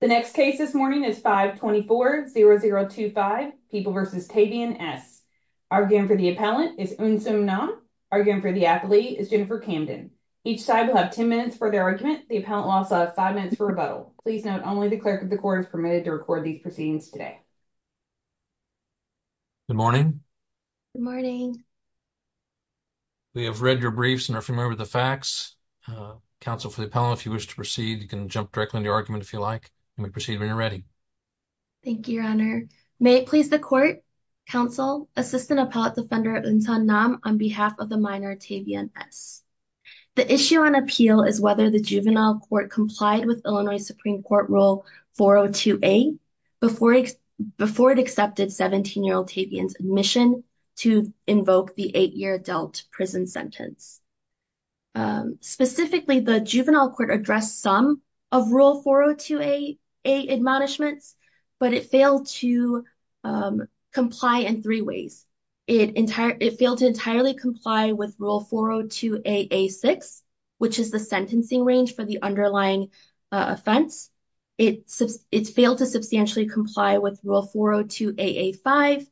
The next case this morning is 524-0025, People v. Tavion S. Arguing for the appellant is Eunseo Nam. Arguing for the applee is Jennifer Camden. Each side will have 10 minutes for their argument. The appellant will also have 5 minutes for rebuttal. Please note, only the clerk of the court is permitted to record these proceedings today. Good morning. Good morning. We have read your briefs and are familiar with the facts. Counsel for the appellant, if you wish to proceed, you can jump directly into your argument if you like. You may proceed when you're ready. Thank you, Your Honor. May it please the court, Counsel, Assistant Appellate Defender Eunseo Nam, on behalf of the minor, Tavion S. The issue on appeal is whether the juvenile court complied with Illinois Supreme Court Rule 402A before it accepted 17-year-old Tavion's admission to invoke the 8-year adult prison sentence. Specifically, the juvenile court addressed some of Rule 402A admonishments, but it failed to comply in three ways. It failed to entirely comply with Rule 402A-A-6, which is the sentencing range for the underlying offense. It failed to substantially comply with Rule 402A-A-5,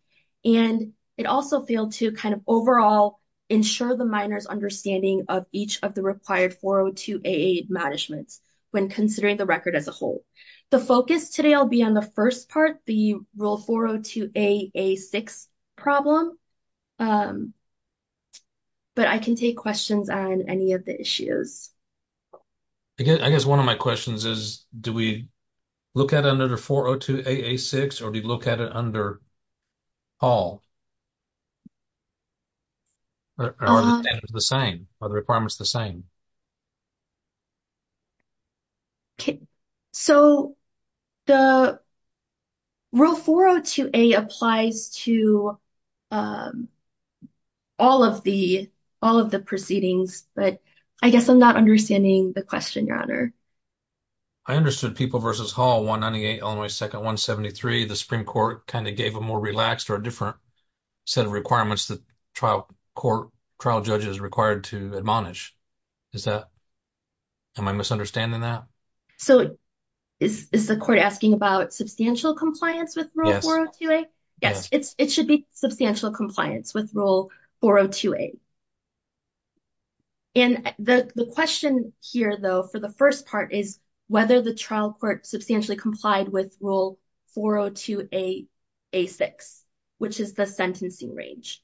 and it also failed to kind of overall ensure the minor's understanding of each of the required 402A-A admonishments when considering the record as a whole. The focus today will be on the first part, the Rule 402A-A-6 problem, but I can take questions on any of the issues. I guess one of my questions is, do we look at it under 402A-A-6, or do we look at it under all? Or are the standards the same? Are the requirements the same? Okay, so the Rule 402A applies to all of the proceedings, but I guess I'm not understanding the question, Your Honor. I understood People v. Hall, 198 Illinois 2nd, 173. The Supreme Court kind of gave a more relaxed or a different set of requirements that trial judges are required to admonish. Am I misunderstanding that? So, is the court asking about substantial compliance with Rule 402A? Yes. Yes, it should be substantial compliance with Rule 402A. And the question here, though, for the first part is whether the trial court substantially complied with Rule 402A-A-6, which is the sentencing range.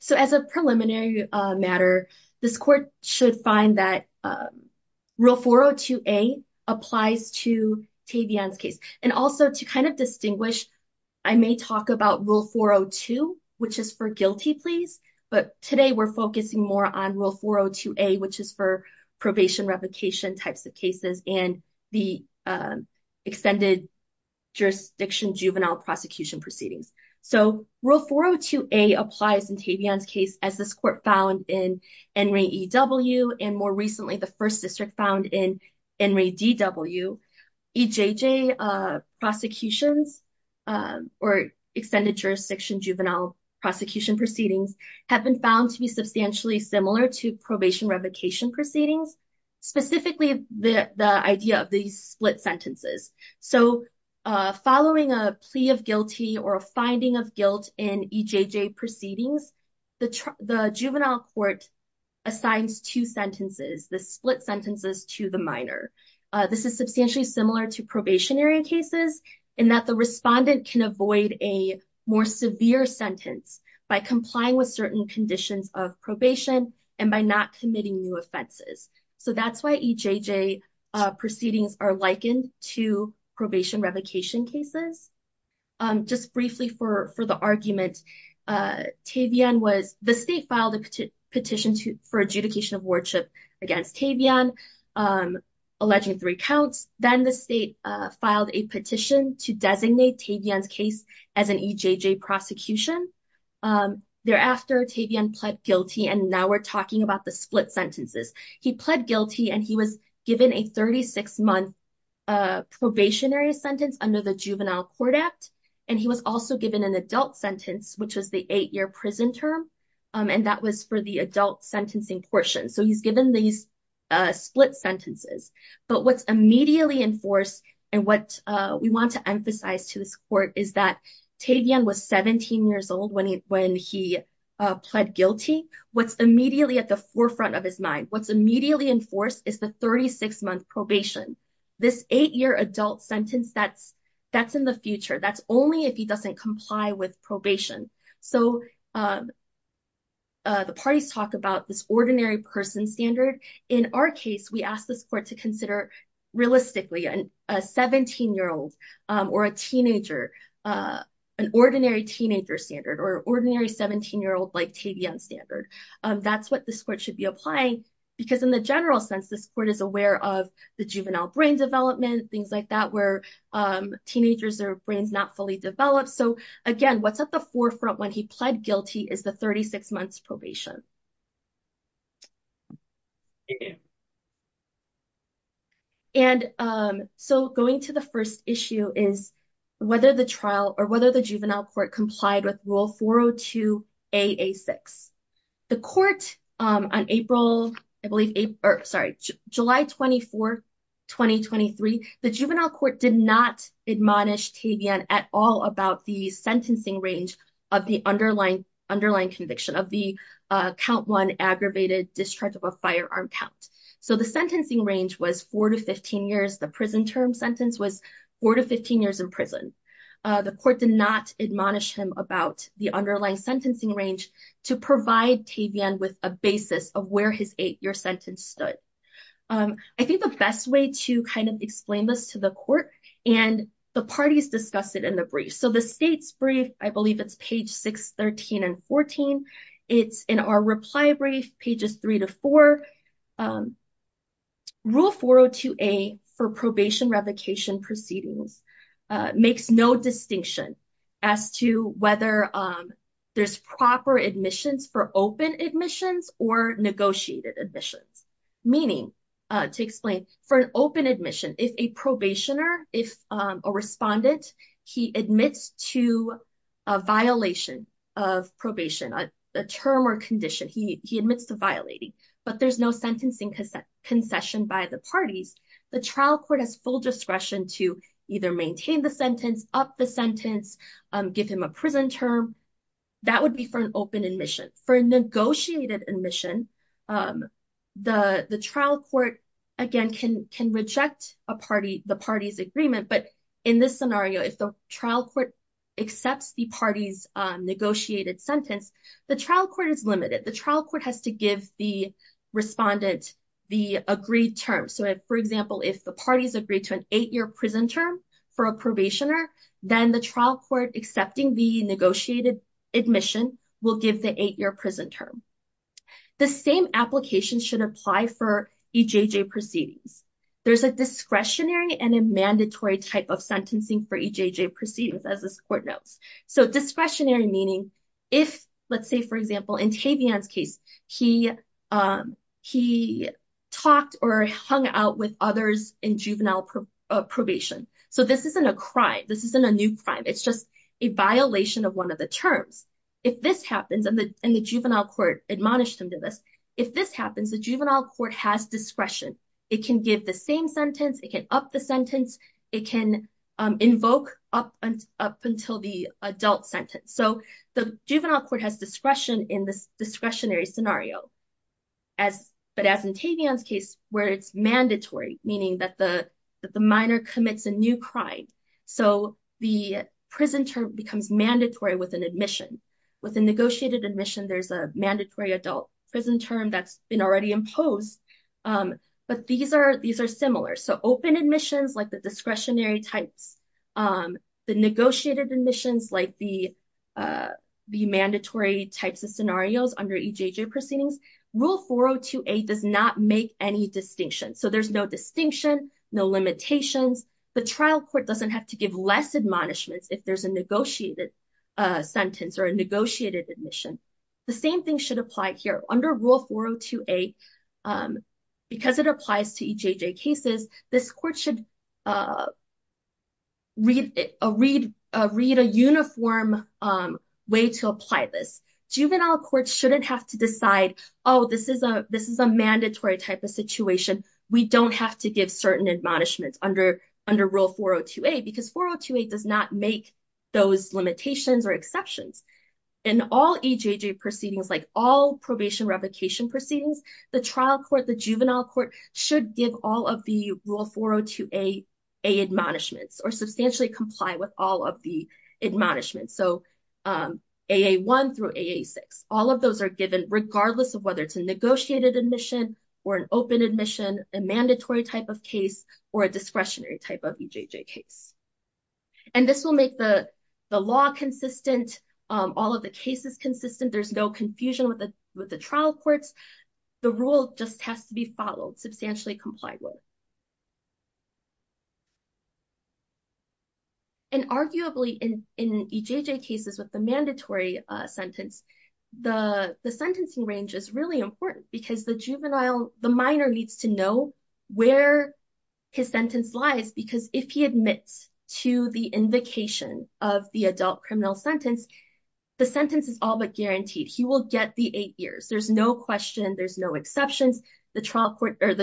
So, as a preliminary matter, this court should find that Rule 402A applies to Tavion's case. And also, to kind of distinguish, I may talk about Rule 402, which is for guilty pleas. But today, we're focusing more on Rule 402A, which is for probation replication types of cases and the extended jurisdiction juvenile prosecution proceedings. So, Rule 402A applies in Tavion's case, as this court found in Enri E.W. and more recently, the first district found in Enri D.W. EJJ prosecutions or extended jurisdiction juvenile prosecution proceedings have been found to be substantially similar to probation replication proceedings, specifically the idea of these split sentences. So, following a plea of guilty or a finding of guilt in EJJ proceedings, the juvenile court assigns two sentences, the split sentences to the minor. This is substantially similar to probationary cases in that the respondent can avoid a more severe sentence by complying with certain conditions of probation and by not committing new offenses. So, that's why EJJ proceedings are likened to probation replication cases. Just briefly for the argument, Tavion was, the state filed a petition for adjudication of wardship against Tavion, alleging three counts. Then the state filed a petition to designate Tavion's case as an EJJ prosecution. Thereafter, Tavion pled guilty and now we're talking about the split sentences. He pled guilty and he was given a 36-month probationary sentence under the Juvenile Court Act. And he was also given an adult sentence, which was the eight-year prison term. And that was for the adult sentencing portion. So, he's given these split sentences. But what's immediately enforced and what we want to emphasize to this court is that Tavion was 17 years old when he pled guilty. What's immediately at the forefront of his mind, what's immediately enforced is the 36-month probation. This eight-year adult sentence, that's in the future. That's only if he doesn't comply with probation. So, the parties talk about this ordinary person standard. In our case, we ask this court to consider realistically a 17-year-old or a teenager, an ordinary teenager standard or ordinary 17-year-old like Tavion standard. That's what this court should be applying because in the general sense, this court is aware of the juvenile brain development, things like that, where teenagers' brains are not fully developed. So, again, what's at the forefront when he pled guilty is the 36-months probation. And so, going to the first issue is whether the trial or whether the juvenile court complied with Rule 402-AA6. The court on July 24, 2023, the juvenile court did not admonish Tavion at all about the sentencing range of the underlying conviction of the count one aggravated discharge of a firearm count. So, the sentencing range was four to 15 years. The prison term sentence was four to 15 years in prison. The court did not admonish him about the underlying sentencing range to provide Tavion with a basis of where his eight-year sentence stood. I think the best way to kind of explain this to the court and the parties discuss it in the brief. So, the state's brief, I believe it's page 613 and 14. It's in our reply brief, pages 3 to 4. Rule 402-A for probation revocation proceedings makes no distinction as to whether there's proper admissions for open admissions or negotiated admissions. Meaning, to explain, for an open admission, if a probationer, if a respondent, he admits to a violation of probation, a term or condition. He admits to violating, but there's no sentencing concession by the parties. The trial court has full discretion to either maintain the sentence, up the sentence, give him a prison term. That would be for an open admission. For a negotiated admission, the trial court, again, can reject the party's agreement. But in this scenario, if the trial court accepts the party's negotiated sentence, the trial court is limited. The trial court has to give the respondent the agreed term. So, for example, if the parties agree to an eight-year prison term for a probationer, then the trial court accepting the negotiated admission will give the eight-year prison term. The same application should apply for EJJ proceedings. There's a discretionary and a mandatory type of sentencing for EJJ proceedings, as this court notes. So, discretionary meaning if, let's say, for example, in Tavian's case, he talked or hung out with others in juvenile probation. So, this isn't a crime. This isn't a new crime. It's just a violation of one of the terms. If this happens, and the juvenile court admonished him to this, if this happens, the juvenile court has discretion. It can give the same sentence. It can up the sentence. It can invoke up until the adult sentence. So, the juvenile court has discretion in this discretionary scenario. But as in Tavian's case, where it's mandatory, meaning that the minor commits a new crime. So, the prison term becomes mandatory with an admission. With a negotiated admission, there's a mandatory adult prison term that's been already imposed. But these are similar. So, open admissions, like the discretionary types. The negotiated admissions, like the mandatory types of scenarios under EJJ proceedings. Rule 402A does not make any distinction. So, there's no distinction, no limitations. The trial court doesn't have to give less admonishments if there's a negotiated sentence or a negotiated admission. The same thing should apply here. Under Rule 402A, because it applies to EJJ cases, this court should read a uniform way to apply this. Juvenile courts shouldn't have to decide, oh, this is a mandatory type of situation. We don't have to give certain admonishments under Rule 402A, because 402A does not make those limitations or exceptions. In all EJJ proceedings, like all probation revocation proceedings, the trial court, the juvenile court, should give all of the Rule 402A admonishments or substantially comply with all of the admonishments. So, AA1 through AA6. All of those are given regardless of whether it's a negotiated admission or an open admission, a mandatory type of case, or a discretionary type of EJJ case. And this will make the law consistent, all of the cases consistent. There's no confusion with the trial courts. The rule just has to be followed, substantially complied with. And arguably, in EJJ cases with the mandatory sentence, the sentencing range is really important, because the juvenile, the minor needs to know where his sentence lies, because if he admits to the invocation of the adult criminal sentence, the sentence is all but guaranteed. He will get the eight years. There's no question. There's no exceptions. The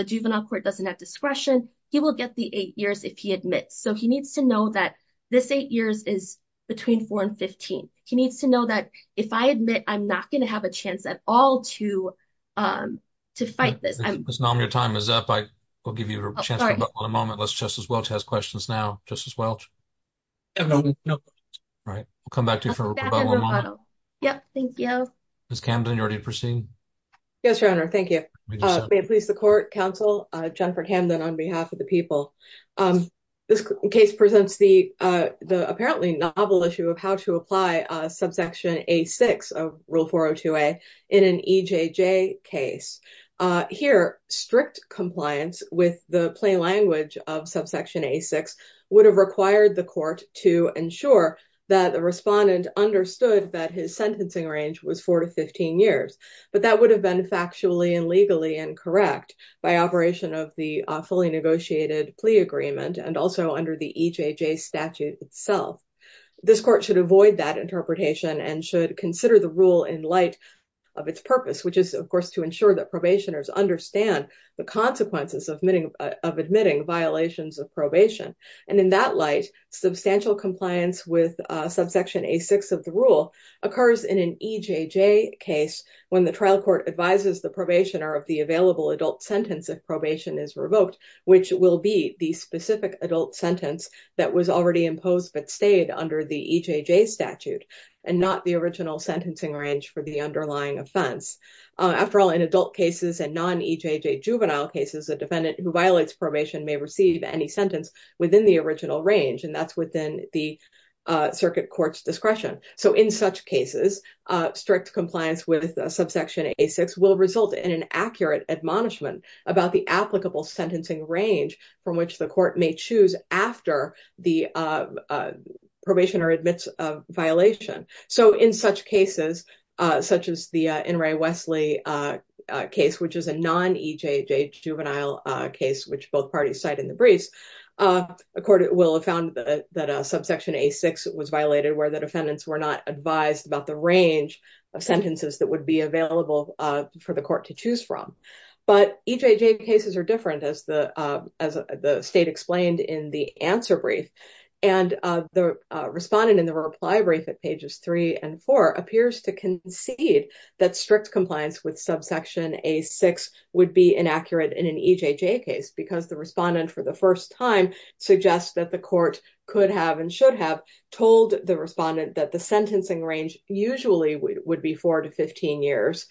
juvenile court doesn't have discretion. He will get the eight years if he admits. So, he needs to know that this eight years is between four and 15. He needs to know that if I admit, I'm not going to have a chance at all to fight this. Ms. Naum, your time is up. I will give you a chance for about one moment, unless Justice Welch has questions now. Justice Welch? No. Right. We'll come back to you for about one moment. Yep, thank you. Ms. Camden, you're ready to proceed? Yes, Your Honor. Thank you. May it please the court, counsel, Jennifer Camden on behalf of the people. This case presents the apparently novel issue of how to apply subsection A6 of Rule 402A in an EJJ case. Here, strict compliance with the plain language of subsection A6 would have required the court to ensure that the respondent understood that his sentencing range was four to 15 years, but that would have been factually and legally incorrect by operation of the fully negotiated plea agreement and also under the EJJ statute itself. This court should avoid that interpretation and should consider the rule in light of its purpose, which is, of course, to ensure that probationers understand the consequences of admitting violations of probation. And in that light, substantial compliance with subsection A6 of the rule occurs in an EJJ case when the trial court advises the probationer of the available adult sentence if probation is revoked, which will be the specific adult sentence that was already imposed but stayed under the EJJ statute and not the original sentencing range for the underlying offense. After all, in adult cases and non-EJJ juvenile cases, a defendant who violates probation may receive any sentence within the original range, and that's within the circuit court's discretion. So in such cases, strict compliance with subsection A6 will result in an accurate admonishment about the applicable sentencing range from which the court may choose after the probationer admits a violation. So in such cases, such as the In re Wesley case, which is a non-EJJ juvenile case, which both parties cite in the briefs, a court will have found that a subsection A6 was violated where the defendants were not advised about the range of sentences that would be available for the court to choose from. But EJJ cases are different, as the state explained in the answer brief, and the respondent in the reply brief at pages 3 and 4 appears to concede that strict compliance with subsection A6 would be inaccurate in an EJJ case because the respondent for the first time suggests that the court could have and should have told the respondent that the sentencing range usually would be 4 to 15 years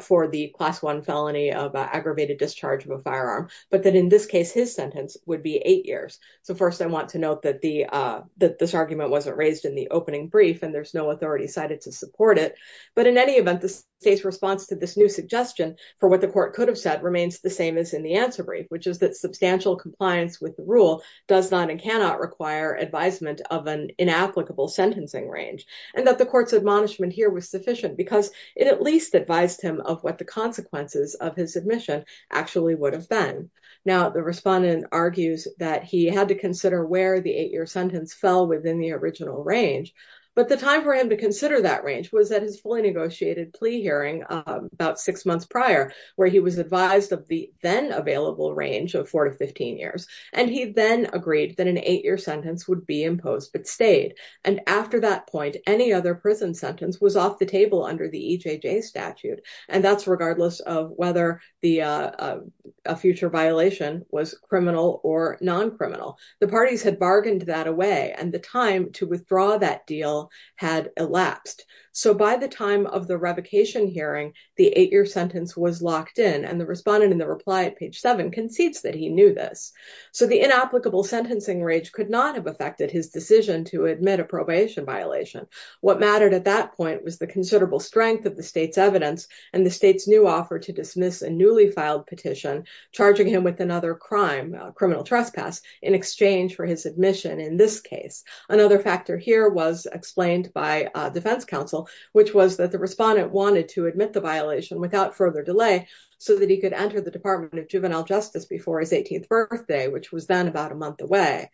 for the class 1 felony of aggravated discharge of a firearm, but that in this case his sentence would be 8 years. So first I want to note that this argument wasn't raised in the opening brief, and there's no authority cited to support it. But in any event, the state's response to this new suggestion for what the court could have said remains the same as in the answer brief, which is that substantial compliance with the rule does not and cannot require advisement of an inapplicable sentencing range, and that the court's admonishment here was sufficient because it at least advised him of what the consequences of his admission actually would have been. Now the respondent argues that he had to consider where the 8-year sentence fell within the original range, but the time for him to consider that range was at his fully negotiated plea hearing about six months prior, where he was advised of the then-available range of 4 to 15 years, and he then agreed that an 8-year sentence would be imposed but stayed. And after that point, any other prison sentence was off the table under the EJJ statute, and that's regardless of whether a future violation was criminal or non-criminal. The parties had bargained that away, and the time to withdraw that deal had elapsed. So by the time of the revocation hearing, the 8-year sentence was locked in, and the respondent in the reply at page 7 concedes that he knew this. So the inapplicable sentencing range could not have affected his decision to admit a probation violation. What mattered at that point was the considerable strength of the state's evidence and the state's new offer to dismiss a newly filed petition charging him with another crime, criminal trespass, in exchange for his admission in this case. Another factor here was explained by defense counsel, which was that the respondent wanted to admit the violation without further delay so that he could enter the Department of Juvenile Justice before his 18th birthday, which was then about a month away.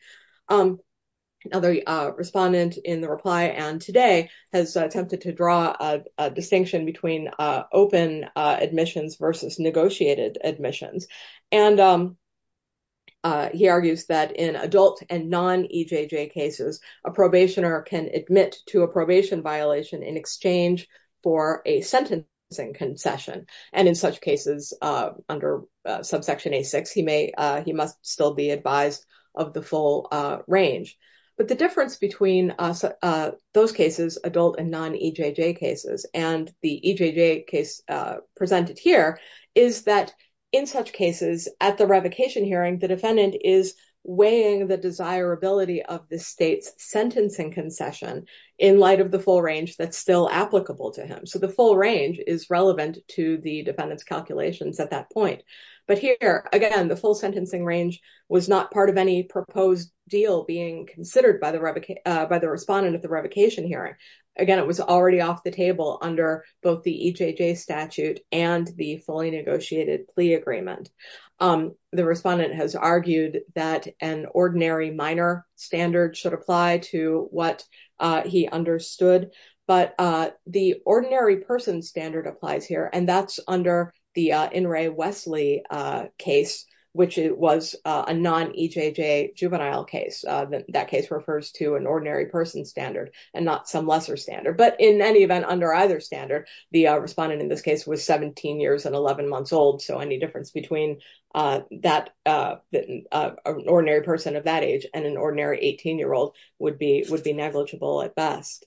Another respondent in the reply and today has attempted to draw a distinction between open admissions versus negotiated admissions, and he argues that in adult and non-EJJ cases, a probationer can admit to a probation violation in exchange for a sentencing concession. And in such cases, under subsection A-6, he must still be advised of the full range. But the difference between those cases, adult and non-EJJ cases, and the EJJ case presented here, is that in such cases, at the revocation hearing, the defendant is weighing the desirability of the state's sentencing concession in light of the full range that's still applicable to him. So the full range is relevant to the defendant's calculations at that point. But here, again, the full sentencing range was not part of any proposed deal being considered by the respondent at the revocation hearing. Again, it was already off the table under both the EJJ statute and the fully negotiated plea agreement. The respondent has argued that an ordinary minor standard should apply to what he understood. But the ordinary person standard applies here, and that's under the In re Wesley case, which was a non-EJJ juvenile case. That case refers to an ordinary person standard and not some lesser standard. But in any event, under either standard, the respondent in this case was 17 years and 11 months old. So any difference between an ordinary person of that age and an ordinary 18-year-old would be negligible at best.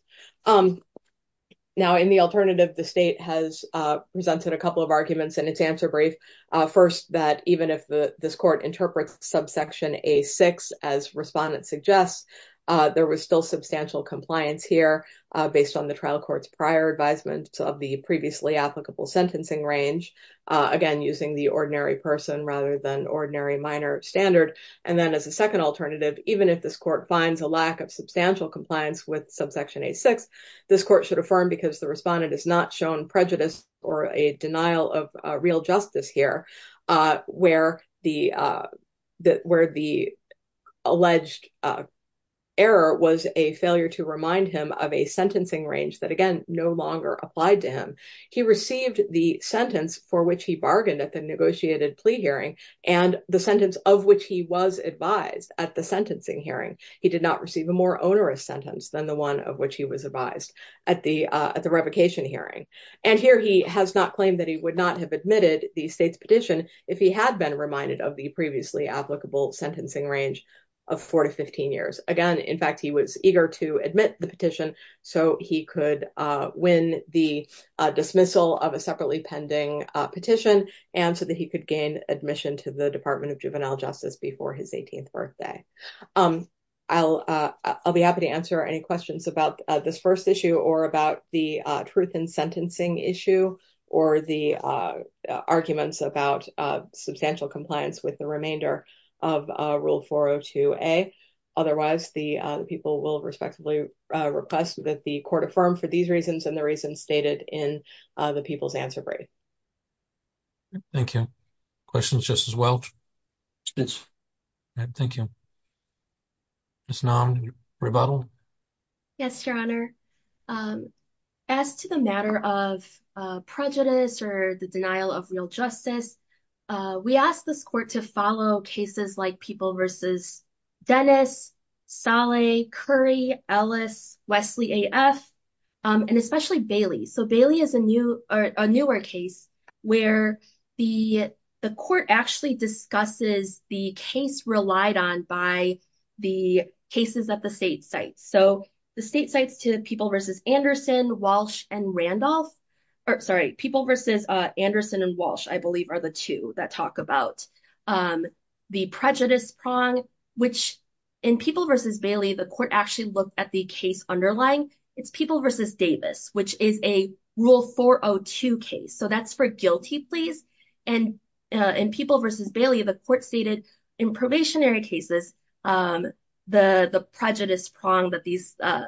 Now, in the alternative, the state has presented a couple of arguments in its answer brief. First, that even if this court interprets subsection A6, as respondent suggests, there was still substantial compliance here based on the trial court's prior advisement of the previously applicable sentencing range. Again, using the ordinary person rather than ordinary minor standard. And then as a second alternative, even if this court finds a lack of substantial compliance with subsection A6, this court should affirm because the respondent has not shown prejudice or a denial of real justice here, where the alleged error was a failure to remind him of a sentencing range that, again, no longer applied to him. He received the sentence for which he bargained at the negotiated plea hearing and the sentence of which he was advised at the sentencing hearing. He did not receive a more onerous sentence than the one of which he was advised at the revocation hearing. And here he has not claimed that he would not have admitted the state's petition if he had been reminded of the previously applicable sentencing range of four to 15 years. Again, in fact, he was eager to admit the petition so he could win the dismissal of a separately pending petition and so that he could gain admission to the Department of Juvenile Justice before his 18th birthday. I'll be happy to answer any questions about this first issue or about the truth in sentencing issue or the arguments about substantial compliance with the remainder of Rule 402A. Otherwise, the people will respectively request that the court affirm for these reasons and the reasons stated in the people's answer brief. Thank you. Questions, Justice Welch? Yes. Thank you. Ms. Nam, rebuttal? Yes, Your Honor. As to the matter of prejudice or the denial of real justice, we asked this court to follow cases like People v. Dennis, Saleh, Curry, Ellis, Wesley AF, and especially Bailey. So, Bailey is a newer case where the court actually discusses the case relied on by the cases at the state sites. So, the state sites to People v. Anderson, Walsh, and Randolph. So, that's for guilty pleas. And in People v. Bailey, the court stated in probationary cases, the prejudice prong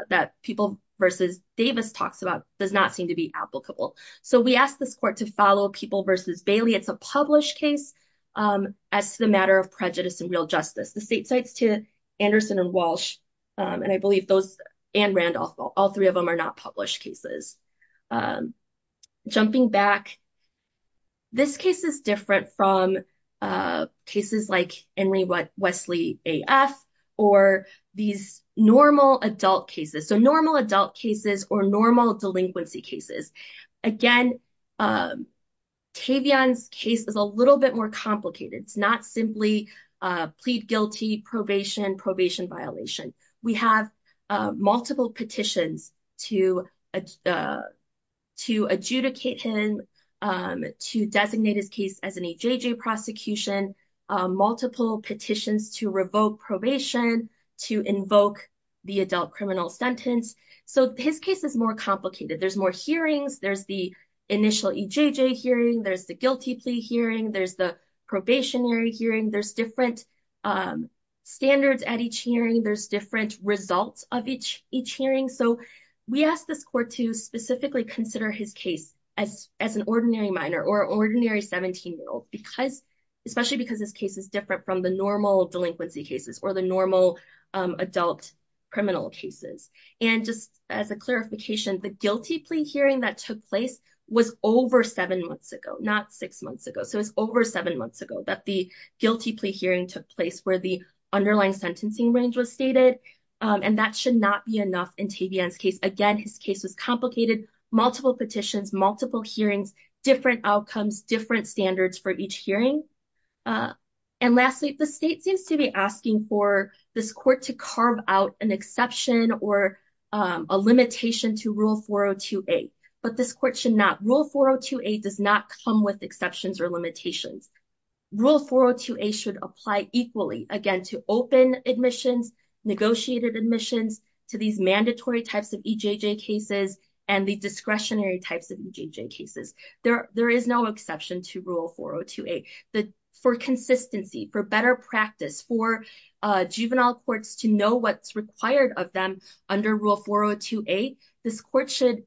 that People v. Davis talks about does not seem to be applicable. So, we asked this court to follow People v. Bailey. It's a published case. As to the matter of prejudice and real justice, the state sites to Anderson and Walsh, and I believe those and Randolph, all three of them are not published cases. Jumping back, this case is different from cases like Wesley AF or these normal adult cases. So, normal adult cases or normal delinquency cases. Again, Tavion's case is a little bit more complicated. It's not simply plead guilty, probation, probation violation. We have multiple petitions to adjudicate him, to designate his case as an AJJ prosecution, multiple petitions to revoke probation, to invoke the adult criminal sentence. So, his case is more complicated. There's more hearings. There's the initial EJJ hearing. There's the guilty plea hearing. There's the probationary hearing. There's different standards at each hearing. There's different results of each hearing. So, we asked this court to specifically consider his case as an ordinary minor or ordinary 17-year-old, especially because this case is different from the normal delinquency cases or the normal adult criminal cases. And just as a clarification, the guilty plea hearing that took place was over seven months ago, not six months ago. So, it's over seven months ago that the guilty plea hearing took place where the underlying sentencing range was stated, and that should not be enough in Tavion's case. Again, his case was complicated, multiple petitions, multiple hearings, different outcomes, different standards for each hearing. And lastly, the state seems to be asking for this court to carve out an exception or a limitation to Rule 402A, but this court should not. Rule 402A does not come with exceptions or limitations. Rule 402A should apply equally, again, to open admissions, negotiated admissions, to these mandatory types of EJJ cases and the discretionary types of EJJ cases. There is no exception to Rule 402A. For consistency, for better practice, for juvenile courts to know what's required of them under Rule 402A, this court should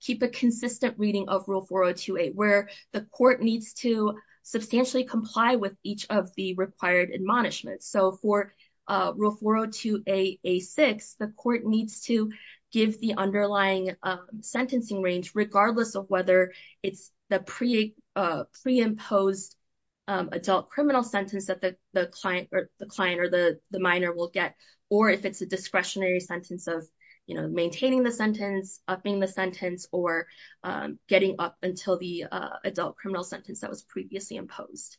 keep a consistent reading of Rule 402A where the court needs to substantially comply with each of the required admonishments. So, for Rule 402A, A6, the court needs to give the underlying sentencing range regardless of whether it's the pre-imposed adult criminal sentence that the client or the minor will get, or if it's a discretionary sentence of maintaining the sentence, upping the sentence, or getting up until the adult criminal sentence that was previously imposed.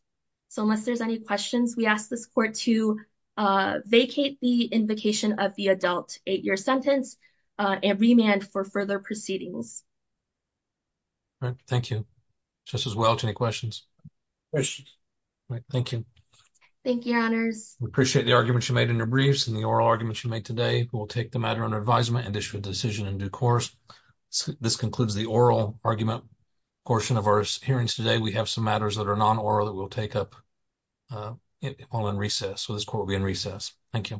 So, unless there's any questions, we ask this court to vacate the invocation of the adult eight-year sentence and remand for further proceedings. All right. Thank you. Justice Welch, any questions? No questions. All right. Thank you. Thank you, Your Honors. We appreciate the arguments you made in your briefs and the oral arguments you made today. We will take the matter under advisement and issue a decision in due course. This concludes the oral argument portion of our hearings today. We have some matters that are non-oral that we'll take up while in recess. So, this court will be in recess. Thank you.